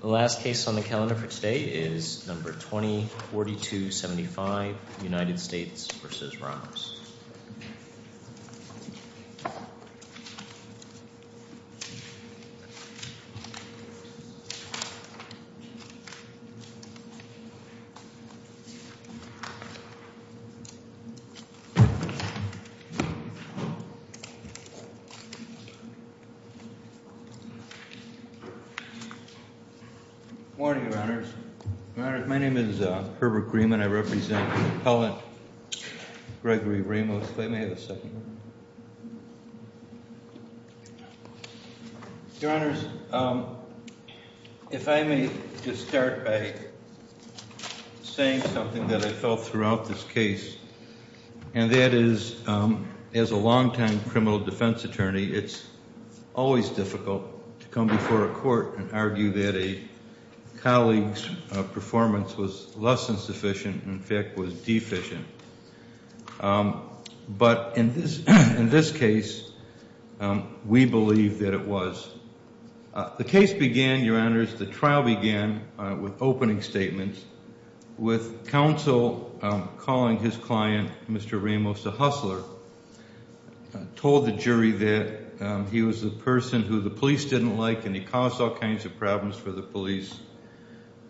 The last case on the calendar for today is number 20-4275 United States v. Ramos Good morning, Your Honors. My name is Herbert Grieman. I represent the appellant, Gregory Ramos. If I may have a second. Your Honors, if I may just start by saying something that I felt throughout this case, and that is, as a longtime criminal defense attorney, it's always difficult to come before a court and argue that a colleague's performance was less than sufficient, in fact, was deficient. But in this case, we believe that it was. The case began, Your Honors, the trial began with opening statements, with counsel calling his client, Mr. Ramos, a hustler, told the jury that he was the person who the police didn't like and he caused all kinds of problems for the police.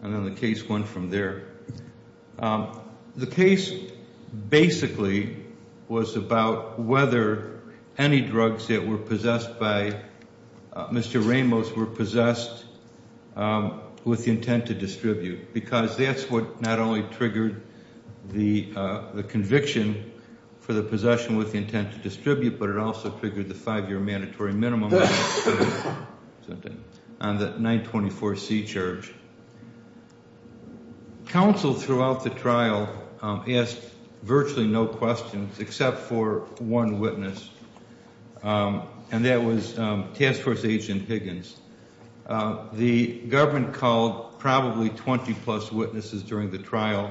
And then the case went from there. The case basically was about whether any drugs that were possessed by Mr. Ramos were possessed with the intent to distribute, because that's what not only triggered the conviction for the possession with the intent to distribute, but it also triggered the five-year mandatory minimum on the 924C charge. Counsel throughout the trial asked virtually no questions except for one witness, and that was Task Force Agent Higgins. The government called probably 20-plus witnesses during the trial,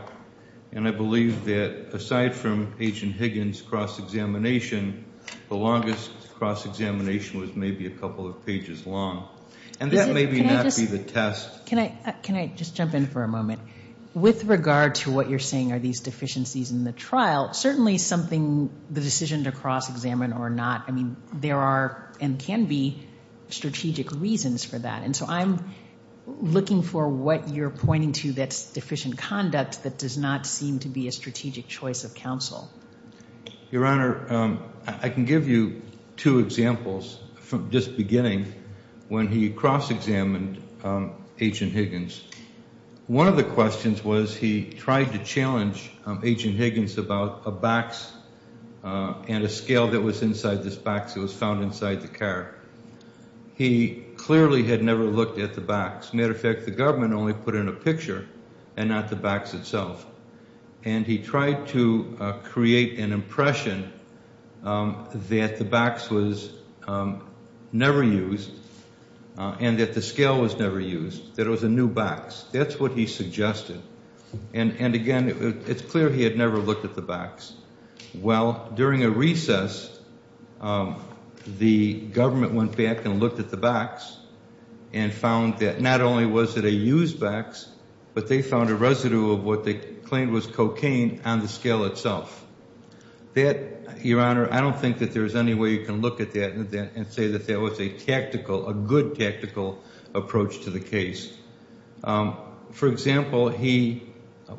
and I believe that aside from Agent Higgins' cross-examination, the longest cross-examination was maybe a couple of pages long. And that may not be the test. Can I just jump in for a moment? With regard to what you're saying are these deficiencies in the trial, certainly something the decision to cross-examine or not, I mean, there are and can be strategic reasons for that. And so I'm looking for what you're pointing to that's deficient conduct that does not seem to be a strategic choice of counsel. Your Honor, I can give you two examples from just beginning when he cross-examined Agent Higgins. One of the questions was he tried to challenge Agent Higgins about a box and a scale that was inside this box that was found inside the car. He clearly had never looked at the box. As a matter of fact, the government only put in a picture and not the box itself. And he tried to create an impression that the box was never used and that the scale was never used, that it was a new box. That's what he suggested. And again, it's clear he had never looked at the box. Well, during a recess, the government went back and looked at the box and found that not only was it a used box, but they found a residue of what they claimed was cocaine on the scale itself. Your Honor, I don't think that there's any way you can look at that and say that that was a tactical, a good tactical approach to the case. For example, he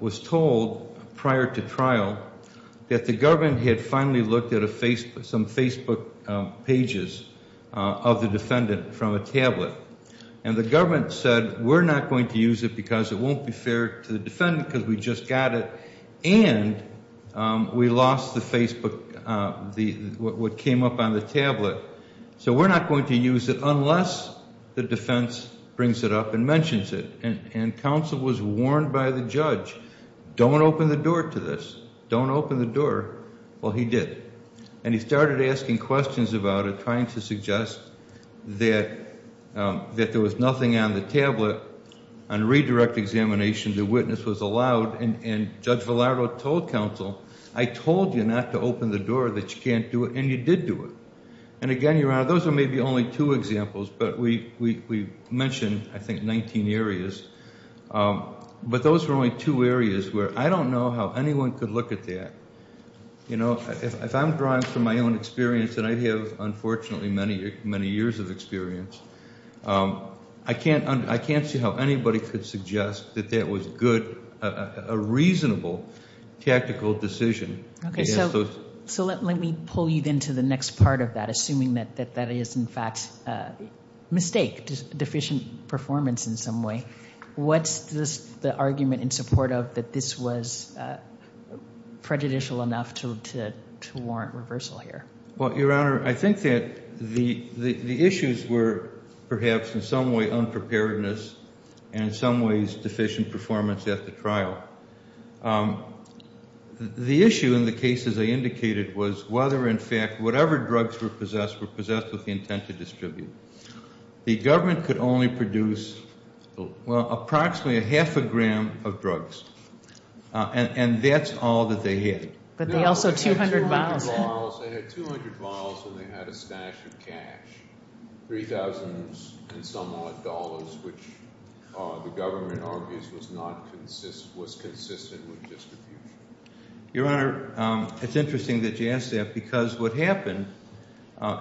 was told prior to trial that the government had finally looked at a Facebook, some Facebook pages of the defendant from a tablet. And the government said we're not going to use it because it won't be fair to the defendant because we just got it and we lost the Facebook, what came up on the tablet. So we're not going to use it unless the defense brings it up and mentions it. And counsel was warned by the judge, don't open the door to this. Don't open the door. Well, he did. And he started asking questions about it, trying to suggest that there was nothing on the tablet. On redirect examination, the witness was allowed. And Judge Velardo told counsel, I told you not to open the door, that you can't do it. And you did do it. And, again, Your Honor, those are maybe only two examples, but we mentioned, I think, 19 areas. But those were only two areas where I don't know how anyone could look at that. You know, if I'm drawing from my own experience, and I have, unfortunately, many years of experience, I can't see how anybody could suggest that that was good, a reasonable tactical decision. Okay. So let me pull you into the next part of that, assuming that that is, in fact, a mistake, deficient performance in some way. What's the argument in support of that this was prejudicial enough to warrant reversal here? Well, Your Honor, I think that the issues were perhaps in some way unpreparedness and in some ways deficient performance at the trial. The issue in the cases I indicated was whether, in fact, whatever drugs were possessed were possessed with the intent to distribute. The government could only produce, well, approximately a half a gram of drugs. And that's all that they had. But they also had 200 bottles. They had 200 bottles, and they had a stash of cash, 3,000-and-some-odd dollars, which the government argues was consistent with distribution. Your Honor, it's interesting that you ask that because what happened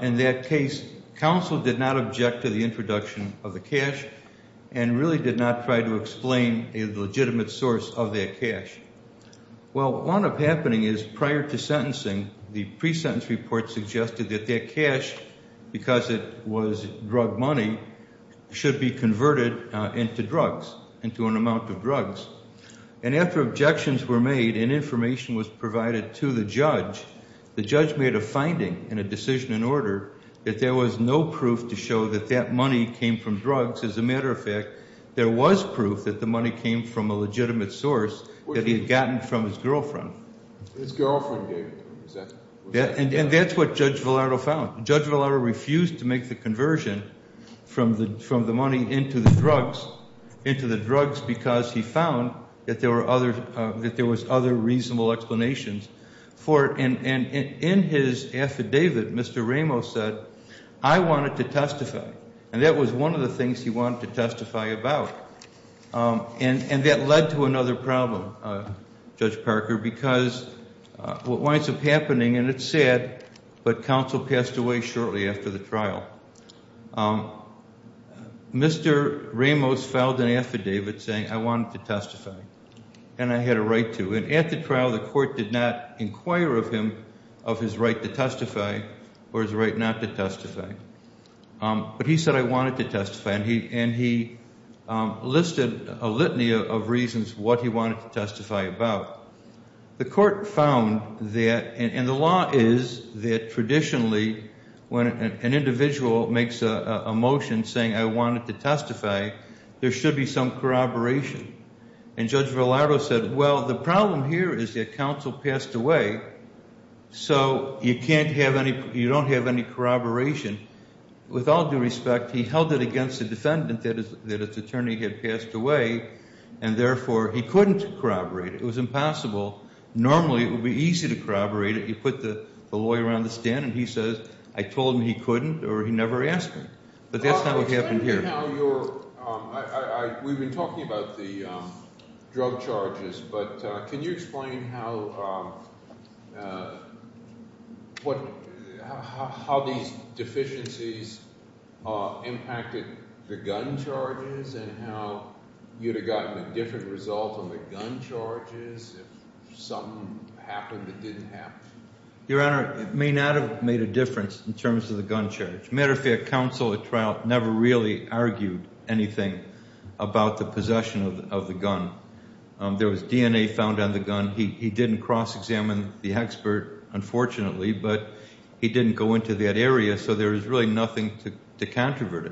in that case, counsel did not object to the introduction of the cash and really did not try to explain a legitimate source of that cash. Well, what wound up happening is prior to sentencing, the pre-sentence report suggested that that cash, because it was drug money, should be converted into drugs, into an amount of drugs. And after objections were made and information was provided to the judge, the judge made a finding and a decision in order that there was no proof to show that that money came from drugs. As a matter of fact, there was proof that the money came from a legitimate source that he had gotten from his girlfriend. His girlfriend gave it to him. And that's what Judge Valado found. Judge Valado refused to make the conversion from the money into the drugs because he found that there was other reasonable explanations for it. And in his affidavit, Mr. Ramos said, I wanted to testify. And that was one of the things he wanted to testify about. And that led to another problem, Judge Parker, because what winds up happening, and it's sad, but counsel passed away shortly after the trial, Mr. Ramos filed an affidavit saying, I wanted to testify, and I had a right to. And at the trial, the court did not inquire of him of his right to testify or his right not to testify. But he said, I wanted to testify, and he listed a litany of reasons what he wanted to testify about. The court found that, and the law is that traditionally when an individual makes a motion saying, I wanted to testify, there should be some corroboration. And Judge Valado said, well, the problem here is that counsel passed away, so you don't have any corroboration. With all due respect, he held it against the defendant that his attorney had passed away, and therefore he couldn't corroborate it. It was impossible. Normally it would be easy to corroborate it. You put the lawyer on the stand and he says, I told him he couldn't or he never asked me. But that's not what happened here. We've been talking about the drug charges, but can you explain how these deficiencies impacted the gun charges and how you would have gotten a different result on the gun charges if something happened that didn't happen? Your Honor, it may not have made a difference in terms of the gun charge. As a matter of fact, counsel at trial never really argued anything about the possession of the gun. There was DNA found on the gun. He didn't cross-examine the expert, unfortunately, but he didn't go into that area, so there was really nothing to controvert it.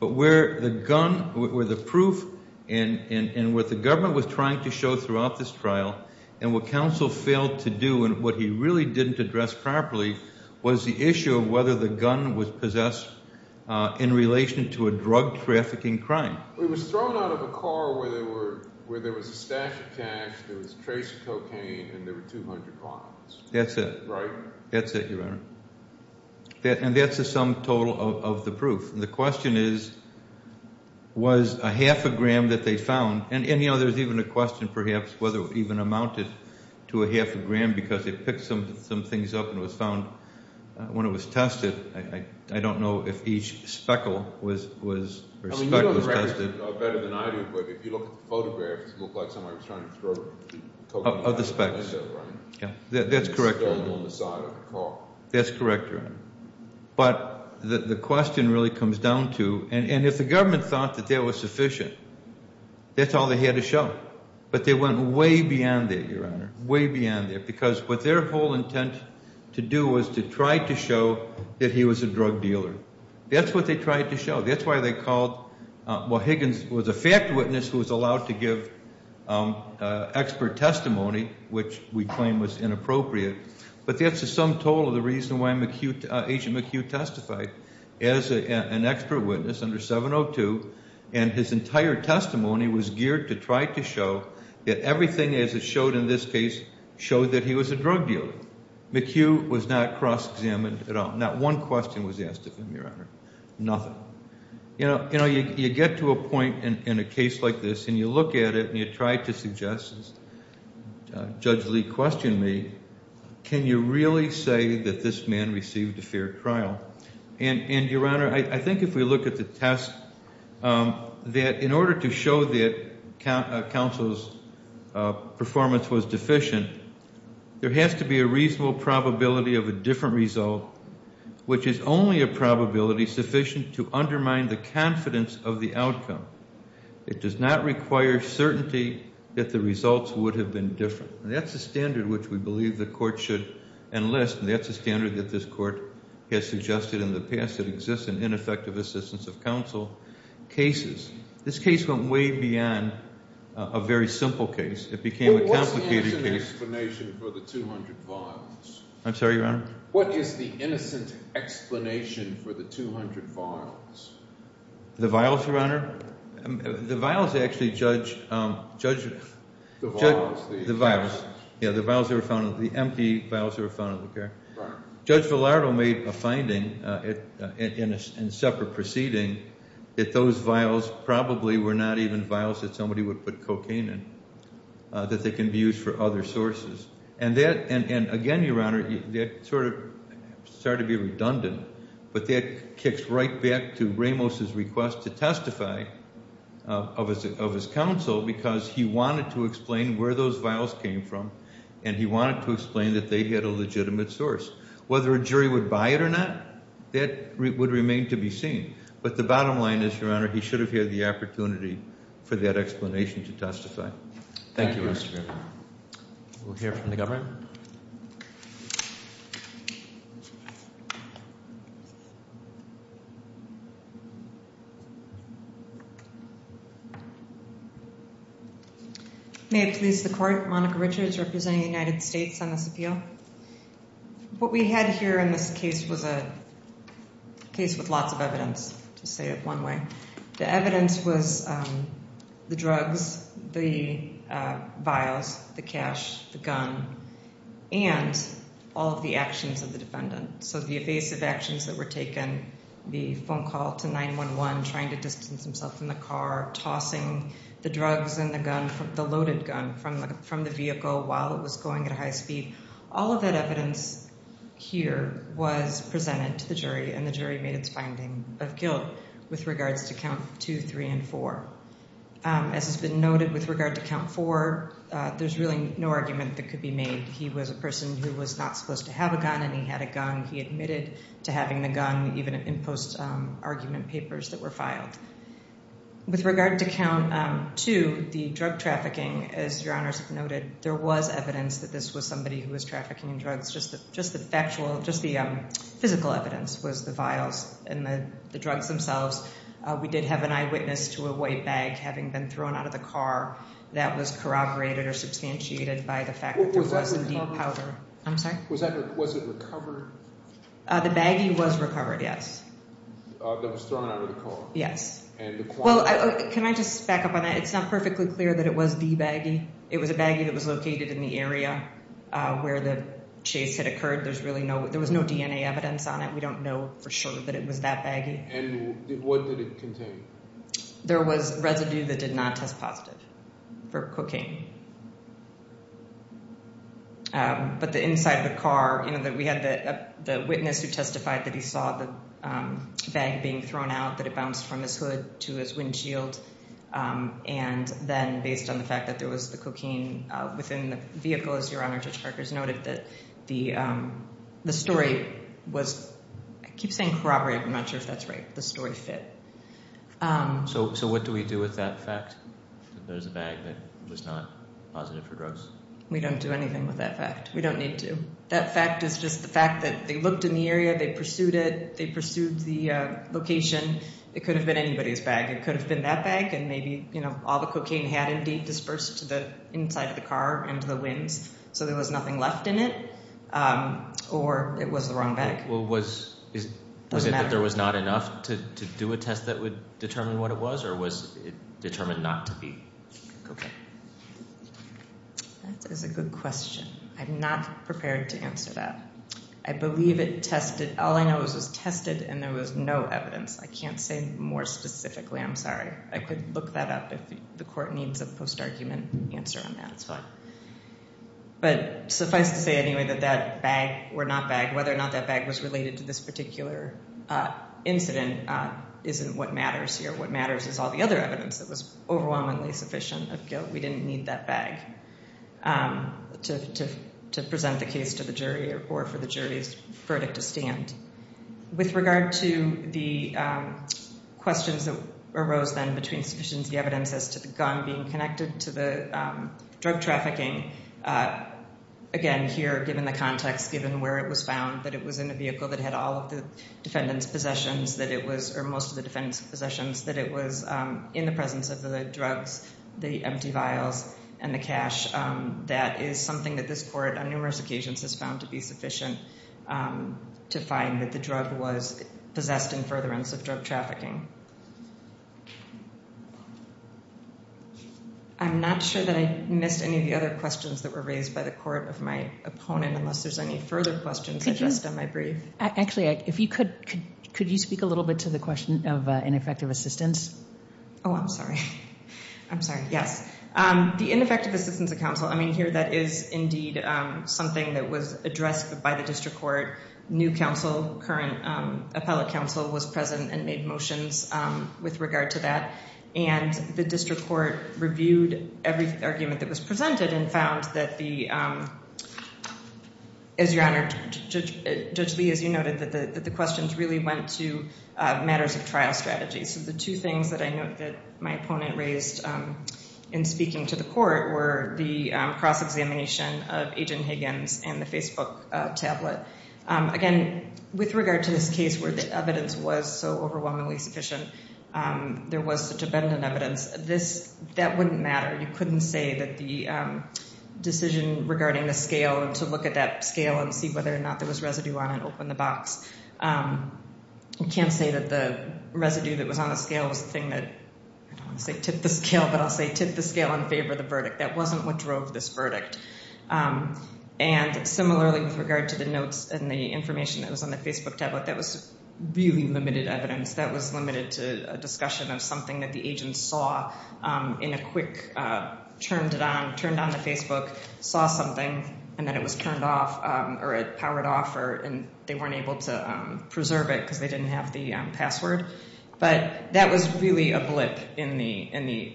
But where the gun, where the proof, and what the government was trying to show throughout this trial and what counsel failed to do and what he really didn't address properly was the issue of whether the gun was possessed in relation to a drug trafficking crime. It was thrown out of a car where there was a stash of cash, there was a trace of cocaine, and there were 200 lines. That's it. Right? That's it, Your Honor. And that's the sum total of the proof. The question is, was a half a gram that they found, because they picked some things up and it was found when it was tested. I don't know if each speckle was tested. You know better than I do, but if you look at the photographs, it looked like somebody was trying to throw cocaine out of a window, right? That's correct, Your Honor. And it's still on the side of the car. That's correct, Your Honor. But the question really comes down to, and if the government thought that that was sufficient, that's all they had to show. But they went way beyond that, Your Honor, way beyond that, because what their whole intent to do was to try to show that he was a drug dealer. That's what they tried to show. That's why they called, well, Higgins was a fact witness who was allowed to give expert testimony, which we claim was inappropriate, but that's the sum total of the reason why Agent McHugh testified as an expert witness under 702, and his entire testimony was geared to try to show that everything, as it showed in this case, showed that he was a drug dealer. McHugh was not cross-examined at all. Not one question was asked of him, Your Honor. Nothing. You know, you get to a point in a case like this, and you look at it, and you try to suggest, as Judge Lee questioned me, can you really say that this man received a fair trial? And, Your Honor, I think if we look at the test, that in order to show that counsel's performance was deficient, there has to be a reasonable probability of a different result, which is only a probability sufficient to undermine the confidence of the outcome. It does not require certainty that the results would have been different. That's a standard which we believe the court should enlist, and that's a standard that this court has suggested in the past. It exists in ineffective assistance of counsel cases. This case went way beyond a very simple case. It became a complicated case. What's the innocent explanation for the 200 vials? I'm sorry, Your Honor? What is the innocent explanation for the 200 vials? The vials, Your Honor? The vials actually, Judge, Judge, the vials. Yeah, the vials that were found, the empty vials that were found in the care. Judge Villardo made a finding in a separate proceeding that those vials probably were not even vials that somebody would put cocaine in, that they can be used for other sources. And again, Your Honor, that sort of started to be redundant, but that kicks right back to Ramos' request to testify of his counsel because he wanted to explain where those vials came from, and he wanted to explain that they had a legitimate source. Whether a jury would buy it or not, that would remain to be seen. But the bottom line is, Your Honor, he should have had the opportunity for that explanation to testify. Thank you, Mr. Griffin. We'll hear from the government. May it please the court, Monica Richards, representing the United States on this appeal. What we had here in this case was a case with lots of evidence, to say it one way. The evidence was the drugs, the vials, the cash, the gun, and the evidence was that there was no evidence and all of the actions of the defendant. So the evasive actions that were taken, the phone call to 911, trying to distance himself from the car, tossing the drugs and the loaded gun from the vehicle while it was going at a high speed. All of that evidence here was presented to the jury, and the jury made its finding of guilt with regards to count two, three, and four. As has been noted, with regard to count four, there's really no argument that could be made. He was a person who was not supposed to have a gun, and he had a gun. He admitted to having the gun, even in post-argument papers that were filed. With regard to count two, the drug trafficking, as Your Honors noted, there was evidence that this was somebody who was trafficking drugs. Just the physical evidence was the vials and the drugs themselves. We did have an eyewitness to a white bag having been thrown out of the car that was corroborated or substantiated by the fact that there was some deep powder. I'm sorry? Was it recovered? The baggie was recovered, yes. That was thrown out of the car? Yes. Can I just back up on that? It's not perfectly clear that it was the baggie. It was a baggie that was located in the area where the chase had occurred. There was no DNA evidence on it. We don't know for sure that it was that baggie. And what did it contain? There was residue that did not test positive for cocaine. But the inside of the car, we had the witness who testified that he saw the bag being thrown out, that it bounced from his hood to his windshield, and then based on the fact that there was the cocaine within the vehicle, as Your Honor Judge Carkers noted, that the story was, I keep saying corroborated, I'm not sure if that's right, the story fit. So what do we do with that fact, that there's a bag that was not positive for drugs? We don't do anything with that fact. We don't need to. That fact is just the fact that they looked in the area, they pursued it, they pursued the location. It could have been anybody's bag. It could have been that bag, and maybe all the cocaine had indeed dispersed to the inside of the car and to the winds, so there was nothing left in it, or it was the wrong bag. Was it that there was not enough to do a test that would determine what it was, or was it determined not to be cocaine? That is a good question. I'm not prepared to answer that. I believe it tested. All I know is it was tested and there was no evidence. I can't say more specifically. I'm sorry. I could look that up if the court needs a post-argument answer on that as well. But suffice to say anyway that that bag or not bag, whether or not that bag was related to this particular incident, isn't what matters here. What matters is all the other evidence that was overwhelmingly sufficient of guilt. We didn't need that bag to present the case to the jury or for the jury's verdict to stand. With regard to the questions that arose then between sufficient evidence as to the gun being connected to the drug trafficking, again, here, given the context, given where it was found, that it was in a vehicle that had all of the defendant's possessions, or most of the defendant's possessions, that it was in the presence of the drugs, the empty vials, and the cash, that is something that this court on numerous occasions has found to be sufficient to find that the drug was possessed in furtherance of drug trafficking. I'm not sure that I missed any of the other questions that were raised by the court of my opponent unless there's any further questions addressed on my brief. Actually, if you could, could you speak a little bit to the question of ineffective assistance? Oh, I'm sorry. I'm sorry. Yes. The ineffective assistance of counsel, I mean, here that is indeed something that was addressed by the district court. New counsel, current appellate counsel was present and made motions with regard to that, and the district court reviewed every argument that was presented and found that the, as Your Honor, Judge Lee, as you noted, that the questions really went to matters of trial strategy. So the two things that I note that my opponent raised in speaking to the court were the cross-examination of Agent Higgins and the Facebook tablet. Again, with regard to this case where the evidence was so overwhelmingly sufficient, there was such abundant evidence, that wouldn't matter. You couldn't say that the decision regarding the scale and to look at that scale and see whether or not there was residue on it opened the box. You can't say that the residue that was on the scale was the thing that, I don't want to say tipped the scale, but that wasn't what drove this verdict. And similarly with regard to the notes and the information that was on the Facebook tablet, that was really limited evidence. That was limited to a discussion of something that the agent saw in a quick, turned it on, turned on the Facebook, saw something, and then it was turned off or it powered off and they weren't able to preserve it because they didn't have the password. But that was really a blip in the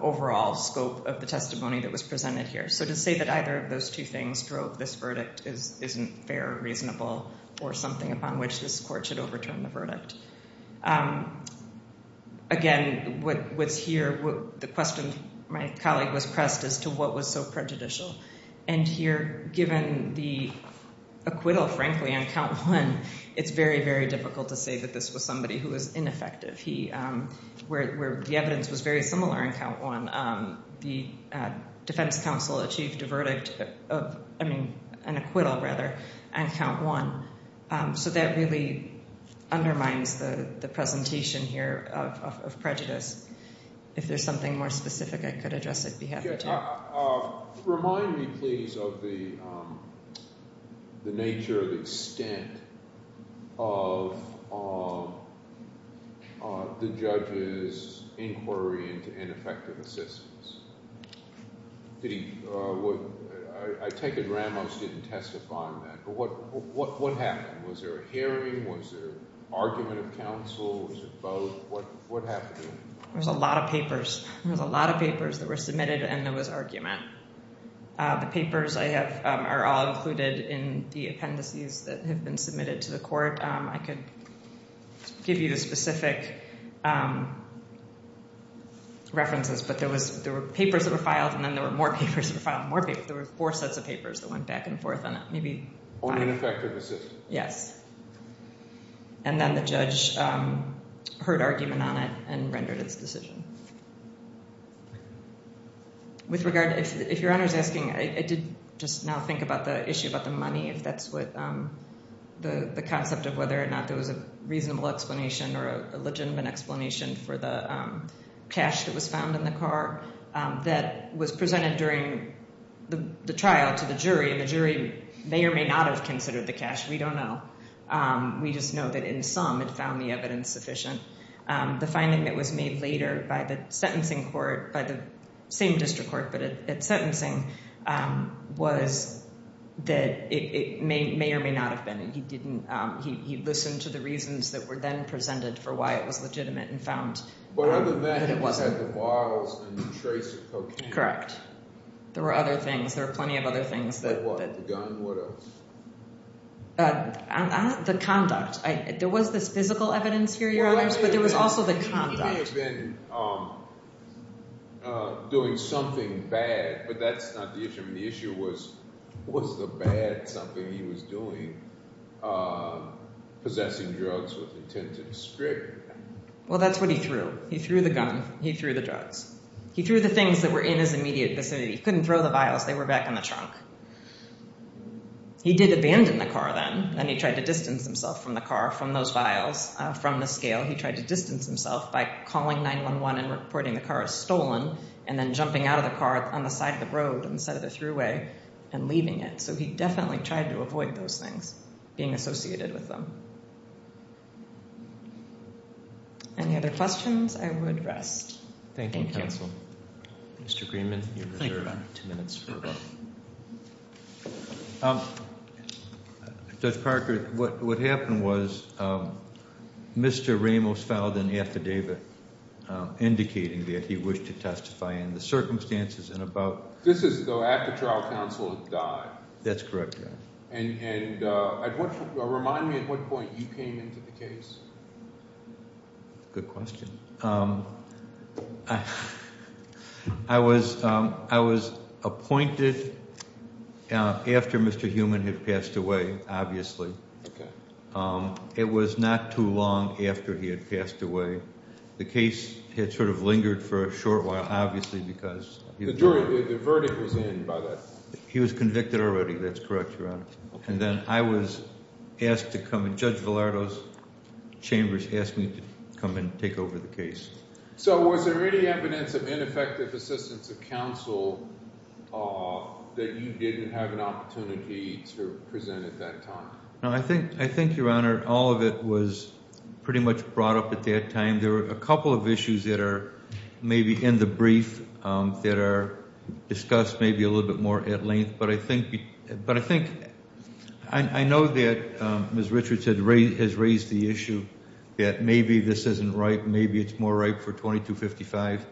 overall scope of the testimony that was presented here. So to say that either of those two things drove this verdict isn't fair or reasonable or something upon which this court should overturn the verdict. Again, what's here, the question my colleague was pressed as to what was so prejudicial. And here, given the acquittal, frankly, on count one, it's very, very difficult to say that this was somebody who was ineffective. The evidence was very similar on count one. The defense counsel achieved a verdict of an acquittal, rather, on count one. So that really undermines the presentation here of prejudice. If there's something more specific I could address, I'd be happy to. Remind me, please, of the nature of the extent of the judge's inquiry into ineffective assistance. I take it Ramos didn't testify on that. But what happened? Was there a hearing? Was there argument of counsel? Was it both? What happened? There was a lot of papers. There was a lot of papers that were submitted and there was argument. The papers are all included in the appendices that have been submitted to the court. I could give you the specific references, but there were papers that were filed and then there were more papers that were filed and more papers. There were four sets of papers that went back and forth on that. Only ineffective assistance. Yes. And then the judge heard argument on it and rendered its decision. With regard, if Your Honor is asking, I did just now think about the issue about the money, if that's what the concept of whether or not there was a reasonable explanation or a legitimate explanation for the cash that was found in the car that was presented during the trial to the jury and the jury may or may not have considered the cash. We don't know. We just know that in sum it found the evidence sufficient. The finding that was made later by the sentencing court, by the same district court, but at sentencing was that it may or may not have been. He listened to the reasons that were then presented for why it was legitimate and found that it wasn't. But other than it had the bottles and the trace of cocaine. Correct. There were other things. There were plenty of other things. That what? The gun? And what else? The conduct. There was this physical evidence here, Your Honors, but there was also the conduct. He may have been doing something bad, but that's not the issue. The issue was, was the bad something he was doing, possessing drugs with intent to strip? Well, that's what he threw. He threw the gun. He threw the drugs. He threw the things that were in his immediate vicinity. He couldn't throw the vials. They were back in the trunk. He did abandon the car then. Then he tried to distance himself from the car, from those vials, from the scale. He tried to distance himself by calling 911 and reporting the car as stolen and then jumping out of the car on the side of the road instead of the thruway and leaving it. So he definitely tried to avoid those things, being associated with them. I would rest. Thank you. Thank you, counsel. Mr. Greenman, you have about two minutes for a vote. Judge Parker, what happened was Mr. Ramos filed an affidavit indicating that he wished to testify in the circumstances and about... This is though after trial counsel had died. That's correct, Your Honor. And remind me at what point you came into the case. Good question. I was appointed after Mr. Heumann had passed away, obviously. Okay. It was not too long after he had passed away. The case had sort of lingered for a short while, obviously, because... The jury, the verdict was in by then. He was convicted already. That's correct, Your Honor. Okay. And then I was asked to come. Judge Villardo's chambers asked me to come and take over the case. So was there any evidence of ineffective assistance of counsel that you didn't have an opportunity to present at that time? No. I think, Your Honor, all of it was pretty much brought up at that time. There were a couple of issues that are maybe in the brief that are discussed maybe a little bit more at length. But I think... I know that Ms. Richards has raised the issue that maybe this isn't right. Maybe it's more ripe for 2255.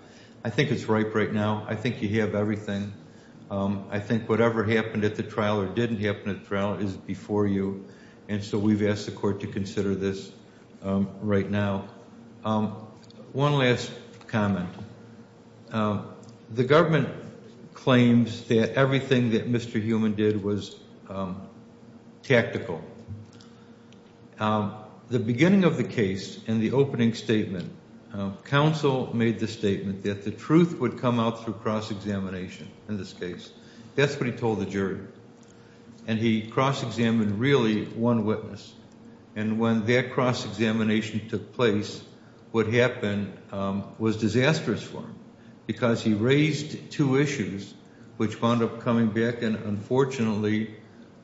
I think it's ripe right now. I think you have everything. I think whatever happened at the trial or didn't happen at the trial is before you. And so we've asked the court to consider this right now. One last comment. The government claims that everything that Mr. Heumann did was tactical. The beginning of the case in the opening statement, counsel made the statement that the truth would come out through cross-examination in this case. That's what he told the jury. And he cross-examined really one witness. And when that cross-examination took place, what happened was disastrous for him because he raised two issues which wound up coming back and, unfortunately,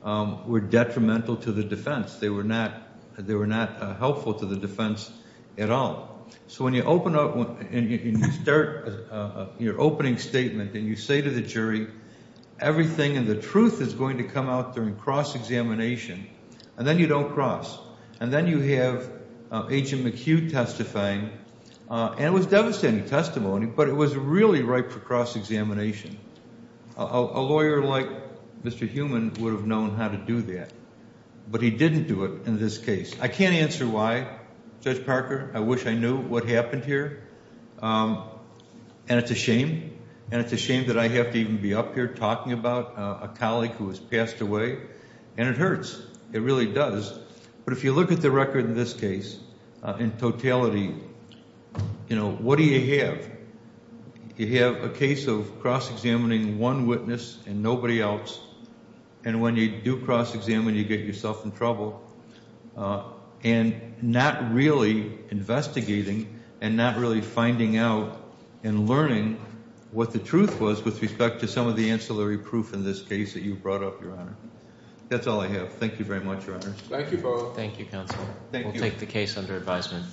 were detrimental to the defense. They were not helpful to the defense at all. So when you open up and you start your opening statement and you say to the jury, everything and the truth is going to come out during cross-examination, and then you don't cross. And then you have Agent McHugh testifying. And it was devastating testimony, but it was really ripe for cross-examination. A lawyer like Mr. Heumann would have known how to do that, but he didn't do it in this case. I can't answer why. Judge Parker, I wish I knew what happened here. And it's a shame. And it's a shame that I have to even be up here talking about a colleague who has passed away. And it hurts. It really does. But if you look at the record in this case, in totality, you know, what do you have? You have a case of cross-examining one witness and nobody else. And when you do cross-examine, you get yourself in trouble. And not really investigating and not really finding out and learning what the truth was with respect to some of the ancillary proof in this case that you brought up, Your Honor. That's all I have. Thank you very much, Your Honor. Thank you both. Thank you, Counselor. We'll take the case under advisement.